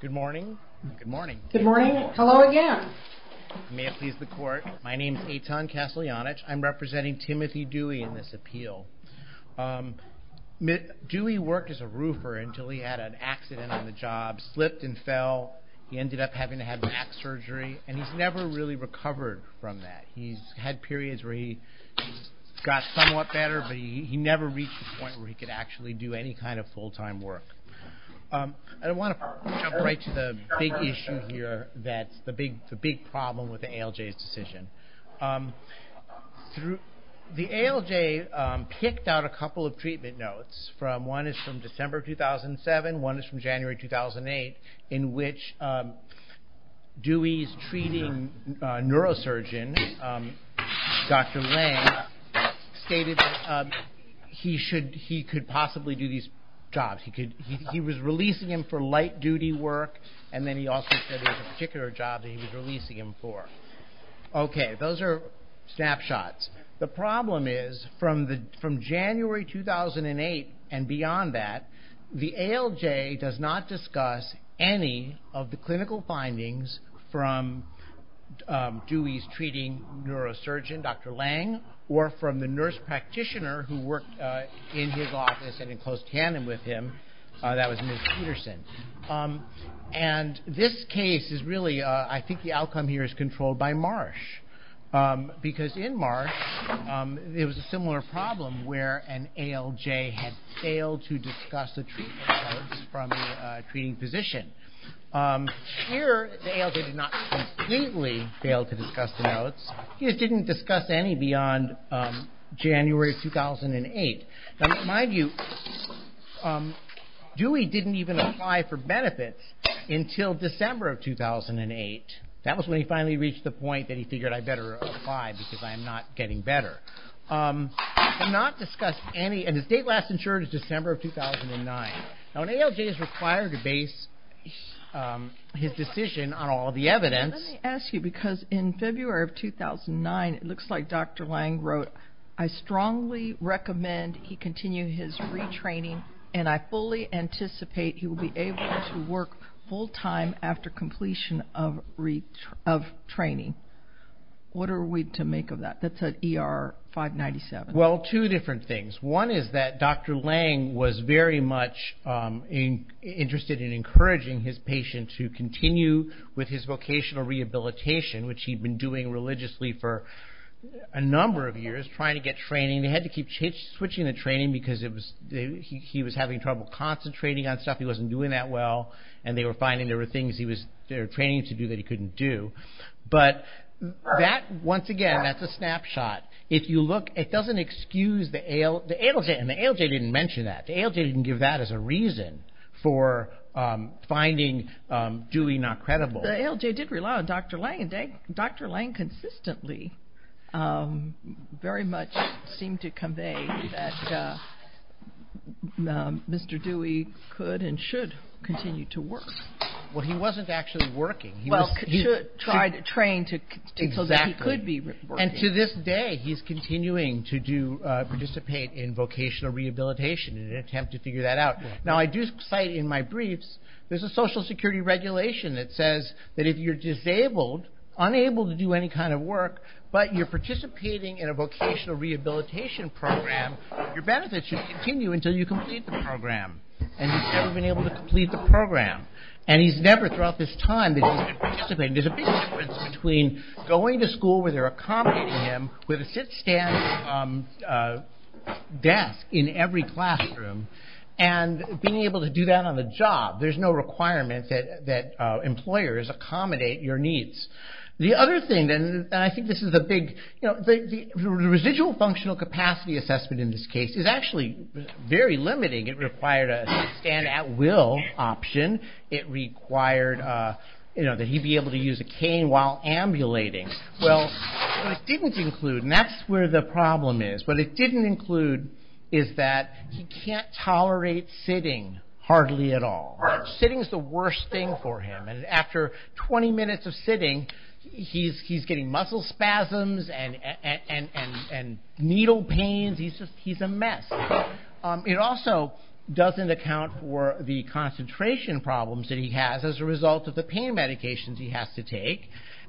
Good morning. Good morning. Good morning. Hello again. May it please the court. My name is Eitan Kaslyanich. I'm representing Timothy Dewey in this appeal. Dewey worked as a roofer until he had an accident on the job, slipped and fell. He ended up having to have back surgery, and he's never really recovered from that. He's had periods where he got somewhat better, but he never reached the point where he could actually do any kind of full-time work. I want to jump right to the big issue here that's the big problem with the ALJ's decision. The ALJ picked out a couple of treatment notes. One is from December 2007. One is from January 2008, in which Dewey's treating neurosurgeon, Dr. Lange, stated he could possibly do these jobs. He was releasing him for light-duty work, and then he also said there was a particular job that he was releasing him for. Okay, those are snapshots. The problem is, from January 2008 and beyond that, the ALJ does not discuss any of the clinical findings from Dewey's treating neurosurgeon, Dr. Lange, or from the nurse practitioner who worked in his office and in close tandem with him. That was Ms. Peterson. This case is really, I think the outcome here is controlled by Marsh, because in Marsh, there was a similar problem where an ALJ had failed to discuss the treatment notes from a treating physician. Here, the ALJ did not completely fail to discuss the notes. He just didn't discuss any beyond January 2008. Now, in my view, Dewey didn't even apply for benefits until December of 2008. That was when he finally reached the point that he figured, I better apply because I am not getting better. He did not discuss any, and his date last insured is December of 2009. Now, an ALJ is required to base his decision on all the evidence. Let me ask you, because in February of 2009, it looks like Dr. Lange wrote, I strongly recommend he continue his retraining, and I fully anticipate he will be able to work full-time after completion of training. What are we to make of that? That's at ER 597. Well, two different things. One is that Dr. Lange was very much interested in encouraging his patient to continue with his vocational rehabilitation, which he'd been doing religiously for a number of years, trying to get training. They had to keep switching the training because he was having trouble concentrating on stuff. He wasn't doing that well, and they were finding there were things he was training to do that he couldn't do. But that, once again, that's a snapshot. If you look, it doesn't excuse the ALJ, and the ALJ didn't mention that. The ALJ didn't give that as a reason for finding Dewey not credible. The ALJ did rely on Dr. Lange, and Dr. Lange consistently very much seemed to convey that Mr. Dewey could and should continue to work. Well, he wasn't actually working. He was trained so that he could be working. And to this day, he's continuing to participate in vocational rehabilitation in an attempt to figure that out. Now, I do cite in my briefs, there's a Social Security regulation that says that if you're disabled, unable to do any kind of work, but you're participating in a vocational rehabilitation program, your benefits should continue until you complete the program. And he's never been able to complete the program. And he's never, throughout this time that he's been participating, there's a big difference between going to school where they're accommodating him with a sit-stand desk in every classroom and being able to do that on the job. There's no requirement that employers accommodate your needs. The other thing, and I think this is a big, you know, very limiting, it required a stand-at-will option. It required, you know, that he be able to use a cane while ambulating. Well, what it didn't include, and that's where the problem is, what it didn't include is that he can't tolerate sitting hardly at all. Sitting is the worst thing for him. And after 20 minutes of sitting, he's getting muscle spasms and needle pains. He's a mess. It also doesn't account for the concentration problems that he has as a result of the pain medications he has to take.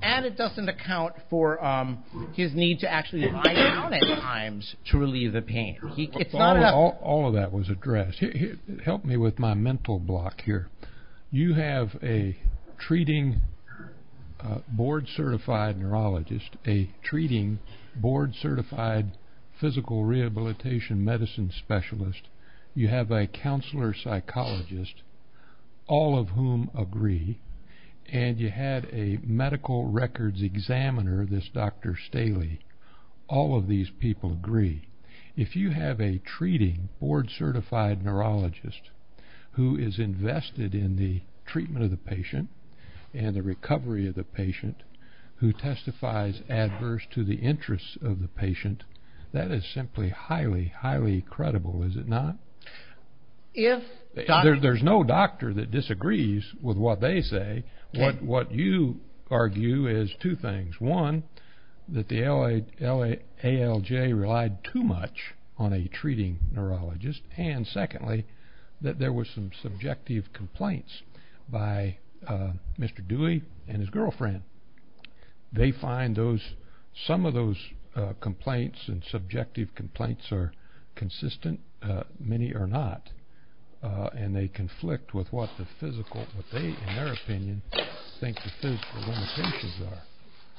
And it doesn't account for his need to actually lie down at times to relieve the pain. All of that was addressed. Help me with my mental block here. You have a treating board-certified neurologist, a treating board-certified physical rehabilitation medicine specialist. You have a counselor psychologist, all of whom agree. And you had a medical records examiner, this Dr. Staley. All of these people agree. If you have a treating board-certified neurologist who is invested in the treatment of the patient and the recovery of the patient who testifies adverse to the interests of the patient, that is simply highly, highly credible, is it not? There's no doctor that disagrees with what they say. What you argue is two things. One, that the ALJ relied too much on a treating neurologist. And secondly, that there were some subjective complaints by Mr. Dewey and his girlfriend. They find some of those complaints and subjective complaints are consistent. Many are not. And they conflict with what the physical, what they, in their opinion, think the physical limitations are.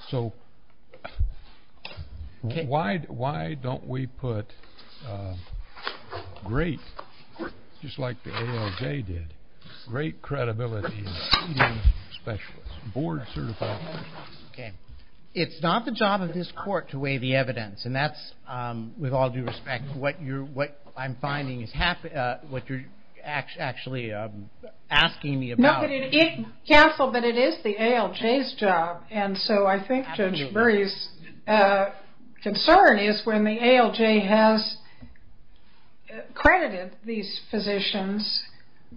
So why don't we put great, just like the ALJ did, great credibility in treating specialists, board-certified specialists? Okay. It's not the job of this court to weigh the evidence. And that's, with all due respect, what I'm finding is happening, what you're actually asking me about. No, but it is the ALJ's job. And so I think Judge Murray's concern is when the ALJ has credited these physicians,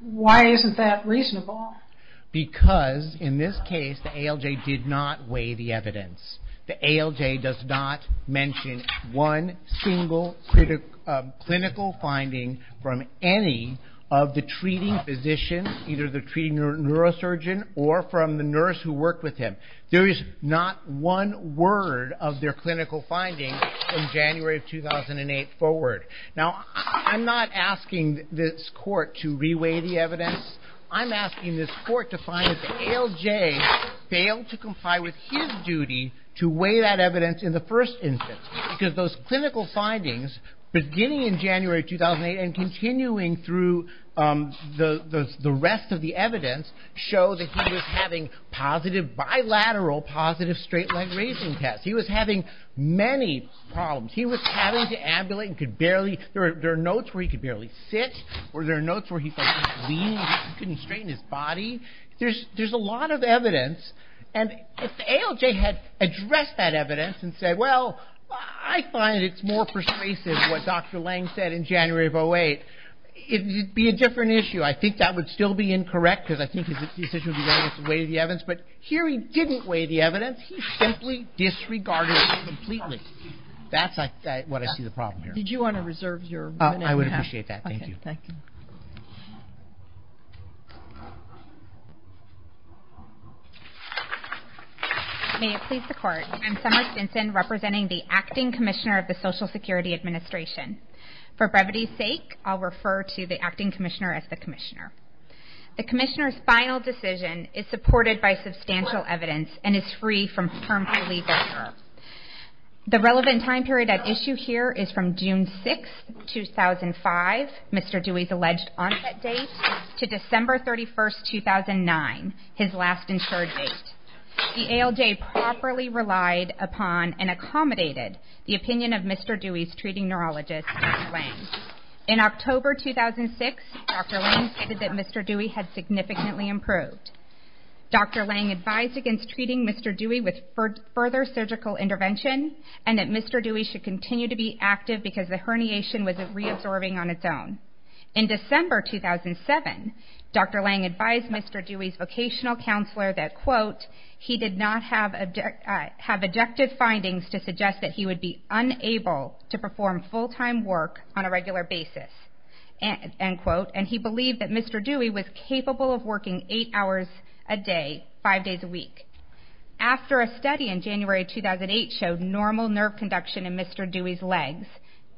why isn't that reasonable? Because, in this case, the ALJ did not weigh the evidence. The ALJ does not mention one single clinical finding from any of the treating physicians, either the treating neurosurgeon or from the nurse who worked with him. There is not one word of their clinical finding from January of 2008 forward. Now, I'm not asking this court to re-weigh the evidence. I'm asking this court to find if the ALJ failed to comply with his duty to weigh that evidence in the first instance. Because those clinical findings, beginning in January 2008 and continuing through the rest of the evidence, show that he was having positive, bilateral positive straight-leg raising tests. He was having many problems. He was having to ambulate and could barely, there are notes where he could barely sit, or there are notes where he couldn't lean, he couldn't straighten his body. There's a lot of evidence. And if the ALJ had addressed that evidence and said, well, I find it's more persuasive what Dr. Lange said in January of 2008, it would be a different issue. I think that would still be incorrect because I think his decision to weigh the evidence. But here he didn't weigh the evidence. He simply disregarded it completely. That's what I see the problem here. Did you want to reserve your minute and a half? I would appreciate that. Thank you. May it please the Court, I'm Summer Stinson, representing the Acting Commissioner of the Social Security Administration. For brevity's sake, I'll refer to the Acting Commissioner as the Commissioner. The Commissioner's final decision is supported by substantial evidence and is free from firm belief. The relevant time period at issue here is from June 6, 2005, Mr. Dewey's alleged onset date, to December 31, 2009, his last insured date. The ALJ properly relied upon and accommodated the opinion of Mr. Dewey's treating neurologist, Dr. Lange. In October 2006, Dr. Lange stated that Mr. Dewey had significantly improved. Dr. Lange advised against treating Mr. Dewey with further surgical intervention and that Mr. Dewey should continue to be active because the herniation was reabsorbing on its own. In December 2007, Dr. Lange advised Mr. Dewey's vocational counselor that, quote, he did not have objective findings to suggest that he would be unable to perform full-time work on a regular basis, end quote, and he believed that Mr. Dewey was capable of working eight hours a day, five days a week. After a study in January 2008 showed normal nerve conduction in Mr. Dewey's legs,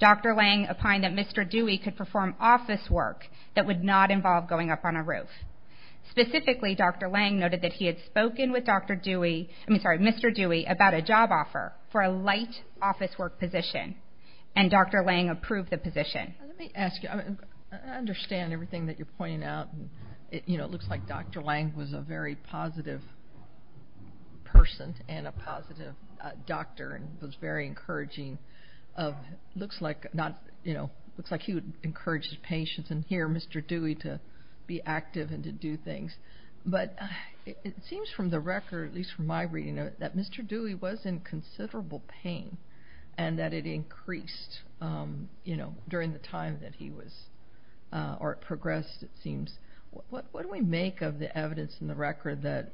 Dr. Lange opined that Mr. Dewey could perform office work that would not involve going up on a roof. Specifically, Dr. Lange noted that he had spoken with Dr. Dewey, I mean, sorry, Mr. Dewey, about a job offer for a light office work position, and Dr. Lange approved the position. Let me ask you, I understand everything that you're pointing out. You know, it looks like Dr. Lange was a very positive person and a positive doctor and was very encouraging of, looks like, you know, looks like he would encourage his patients and hear Mr. Dewey to be active and to do things. But it seems from the record, at least from my reading, that Mr. Dewey was in considerable pain and that it increased, you know, during the time that he was, or it progressed, it seems. What do we make of the evidence in the record that,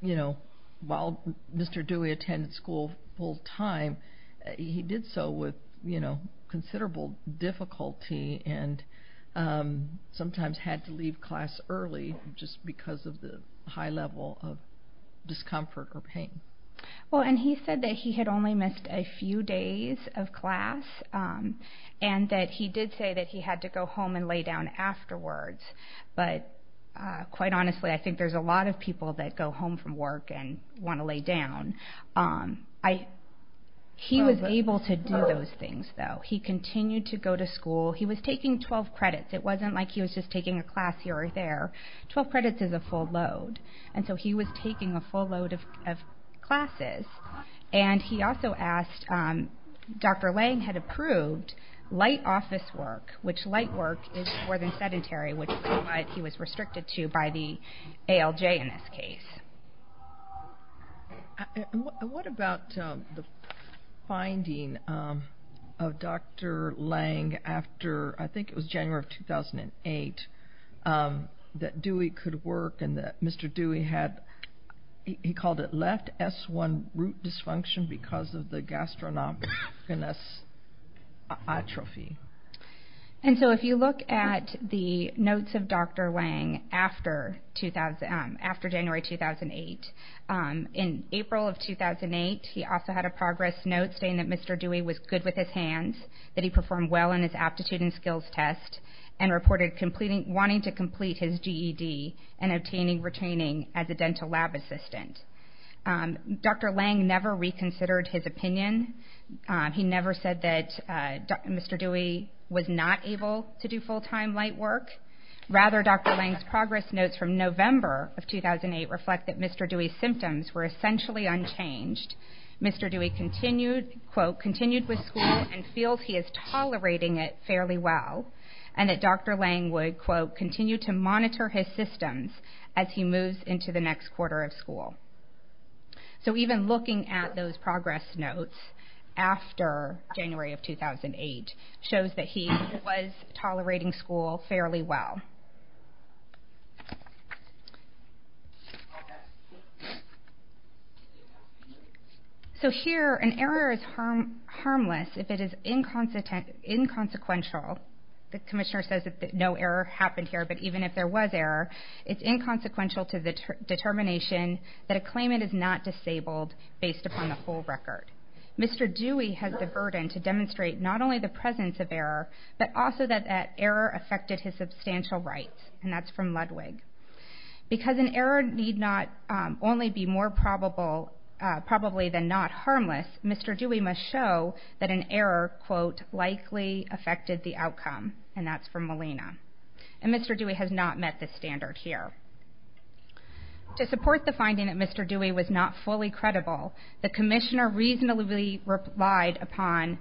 you know, while Mr. Dewey attended school full-time, he did so with, you know, considerable difficulty and sometimes had to leave class early just because of the high level of discomfort or pain? Well, and he said that he had only missed a few days of class and that he did say that he had to go home and lay down afterwards. But quite honestly, I think there's a lot of people that go home from work and want to lay down. He was able to do those things, though. He continued to go to school. He was taking 12 credits. It wasn't like he was just taking a class here or there. Twelve credits is a full load. And so he was taking a full load of classes. And he also asked, Dr. Lange had approved light office work, which light work is more than sedentary, which is what he was restricted to by the ALJ in this case. And what about the finding of Dr. Lange after, I think it was January of 2008, that Dewey could work and that Mr. Dewey had, he called it left S1 root dysfunction because of the gastroenteritis atrophy? And so if you look at the notes of Dr. Lange after January 2008, in April of 2008, he also had a progress note saying that Mr. Dewey was good with his hands, that he performed well in his aptitude and skills test, and reported wanting to complete his GED and obtaining retaining as a dental lab assistant. He never said that Mr. Dewey was not able to do full-time light work. Rather, Dr. Lange's progress notes from November of 2008 reflect that Mr. Dewey's symptoms were essentially unchanged. Mr. Dewey continued, quote, continued with school and feels he is tolerating it fairly well, and that Dr. Lange would, quote, continue to monitor his systems as he moves into the next quarter of school. So even looking at those progress notes after January of 2008 shows that he was tolerating school fairly well. So here, an error is harmless if it is inconsequential. The commissioner says that no error happened here, but even if there was error, it's inconsequential to the determination that a claimant is not disabled based upon the full record. Mr. Dewey has the burden to demonstrate not only the presence of error, but also that that error affected his substantial rights, and that's from Ludwig. Because an error need not only be more probable probably than not harmless, Mr. Dewey must show that an error, quote, likely affected the outcome, and that's from Molina. And Mr. Dewey has not met this standard here. To support the finding that Mr. Dewey was not fully credible, the commissioner reasonably relied upon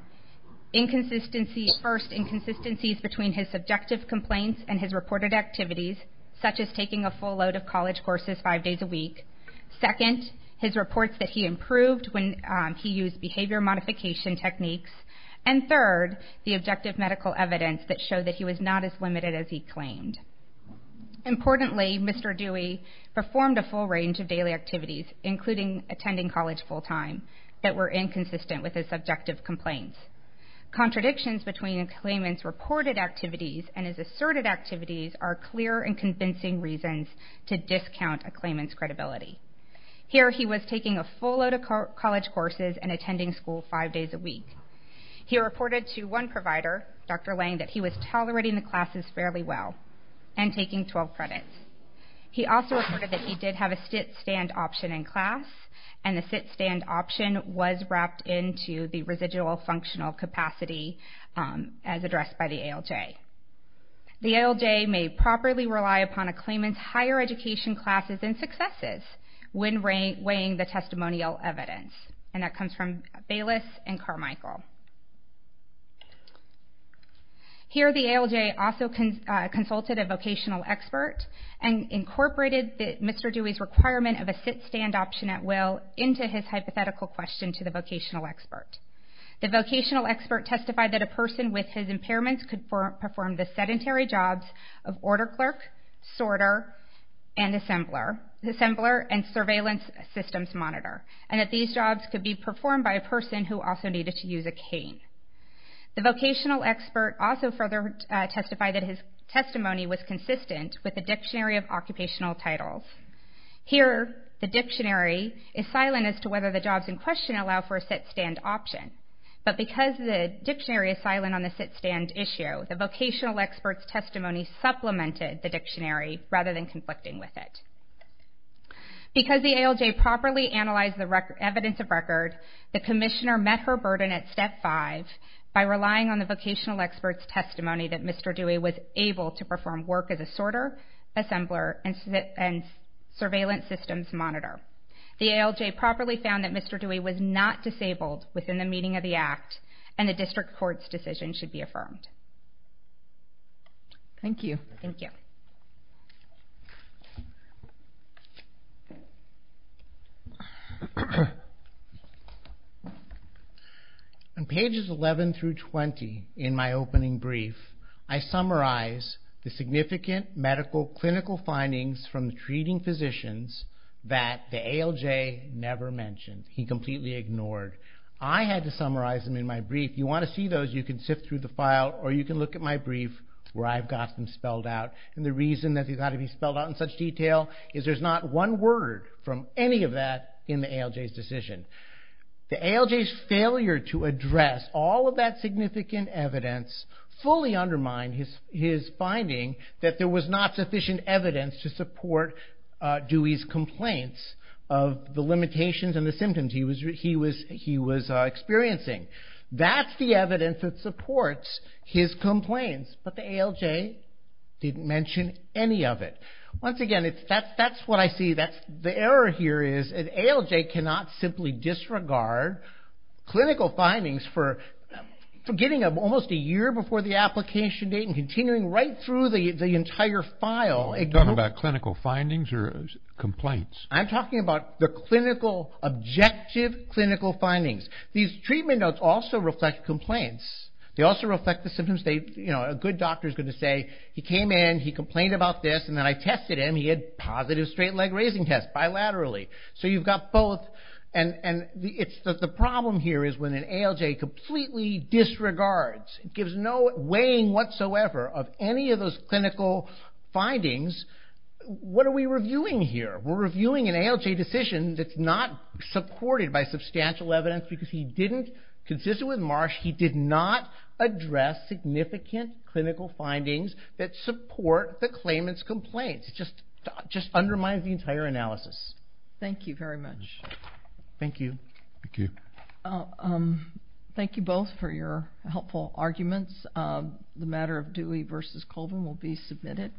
inconsistencies, first, inconsistencies between his subjective complaints and his reported activities, such as taking a full load of college courses five days a week, second, his reports that he improved when he used behavior modification techniques, and third, the objective medical evidence that showed that he was not as limited as he claimed. Importantly, Mr. Dewey performed a full range of daily activities, including attending college full time, that were inconsistent with his subjective complaints. Contradictions between a claimant's reported activities and his asserted activities are clear and convincing reasons to discount a claimant's credibility. Here he was taking a full load of college courses and attending school five days a week. He reported to one provider, Dr. Lange, that he was tolerating the classes fairly well and taking 12 credits. He also reported that he did have a sit-stand option in class, and the sit-stand option was wrapped into the residual functional capacity as addressed by the ALJ. The ALJ may properly rely upon a claimant's higher education classes and successes when weighing the testimonial evidence. And that comes from Bayless and Carmichael. Here the ALJ also consulted a vocational expert and incorporated Mr. Dewey's requirement of a sit-stand option at will into his hypothetical question to the vocational expert. The vocational expert testified that a person with his impairments could perform the sedentary jobs of order clerk, sorter, and assembler, and surveillance systems monitor, and that these jobs could be performed by a person who also needed to use a cane. The vocational expert also further testified that his testimony was consistent with the Dictionary of Occupational Titles. Here the dictionary is silent as to whether the jobs in question allow for a sit-stand option, but because the dictionary is silent on the sit-stand issue, the vocational expert's testimony supplemented the dictionary rather than conflicting with it. Because the ALJ properly analyzed the evidence of record, the commissioner met her burden at step five by relying on the vocational expert's testimony that Mr. Dewey was able to perform work as a sorter, assembler, and surveillance systems monitor. The ALJ properly found that Mr. Dewey was not disabled within the meaning of the act, and the district court's decision should be affirmed. Thank you. Thank you. On pages 11 through 20 in my opening brief, I summarize the significant medical clinical findings from the treating physicians that the ALJ never mentioned. He completely ignored. I had to summarize them in my brief. If you want to see those, you can sift through the file, or you can look at my brief where I've got them spelled out. And the reason that they've got to be spelled out in such detail is there's not one word from any of that in the ALJ's decision. The ALJ's failure to address all of that significant evidence fully undermined his finding that there was not sufficient evidence to support Dewey's complaints of the limitations and the symptoms he was experiencing. That's the evidence that supports his complaints. But the ALJ didn't mention any of it. Once again, that's what I see. The error here is an ALJ cannot simply disregard clinical findings for getting almost a year before the application date and continuing right through the entire file. Are you talking about clinical findings or complaints? I'm talking about the clinical, objective clinical findings. These treatment notes also reflect complaints. They also reflect the symptoms. A good doctor is going to say, he came in, he complained about this, and then I tested him, he had positive straight leg raising tests bilaterally. So you've got both. The problem here is when an ALJ completely disregards, gives no weighing whatsoever of any of those clinical findings, what are we reviewing here? We're reviewing an ALJ decision that's not supported by substantial evidence because he didn't, consistent with Marsh, he did not address significant clinical findings that support the claimant's complaints. It just undermines the entire analysis. Thank you very much. Thank you. Thank you both for your helpful arguments. The matter of Dewey v. Colvin will be submitted.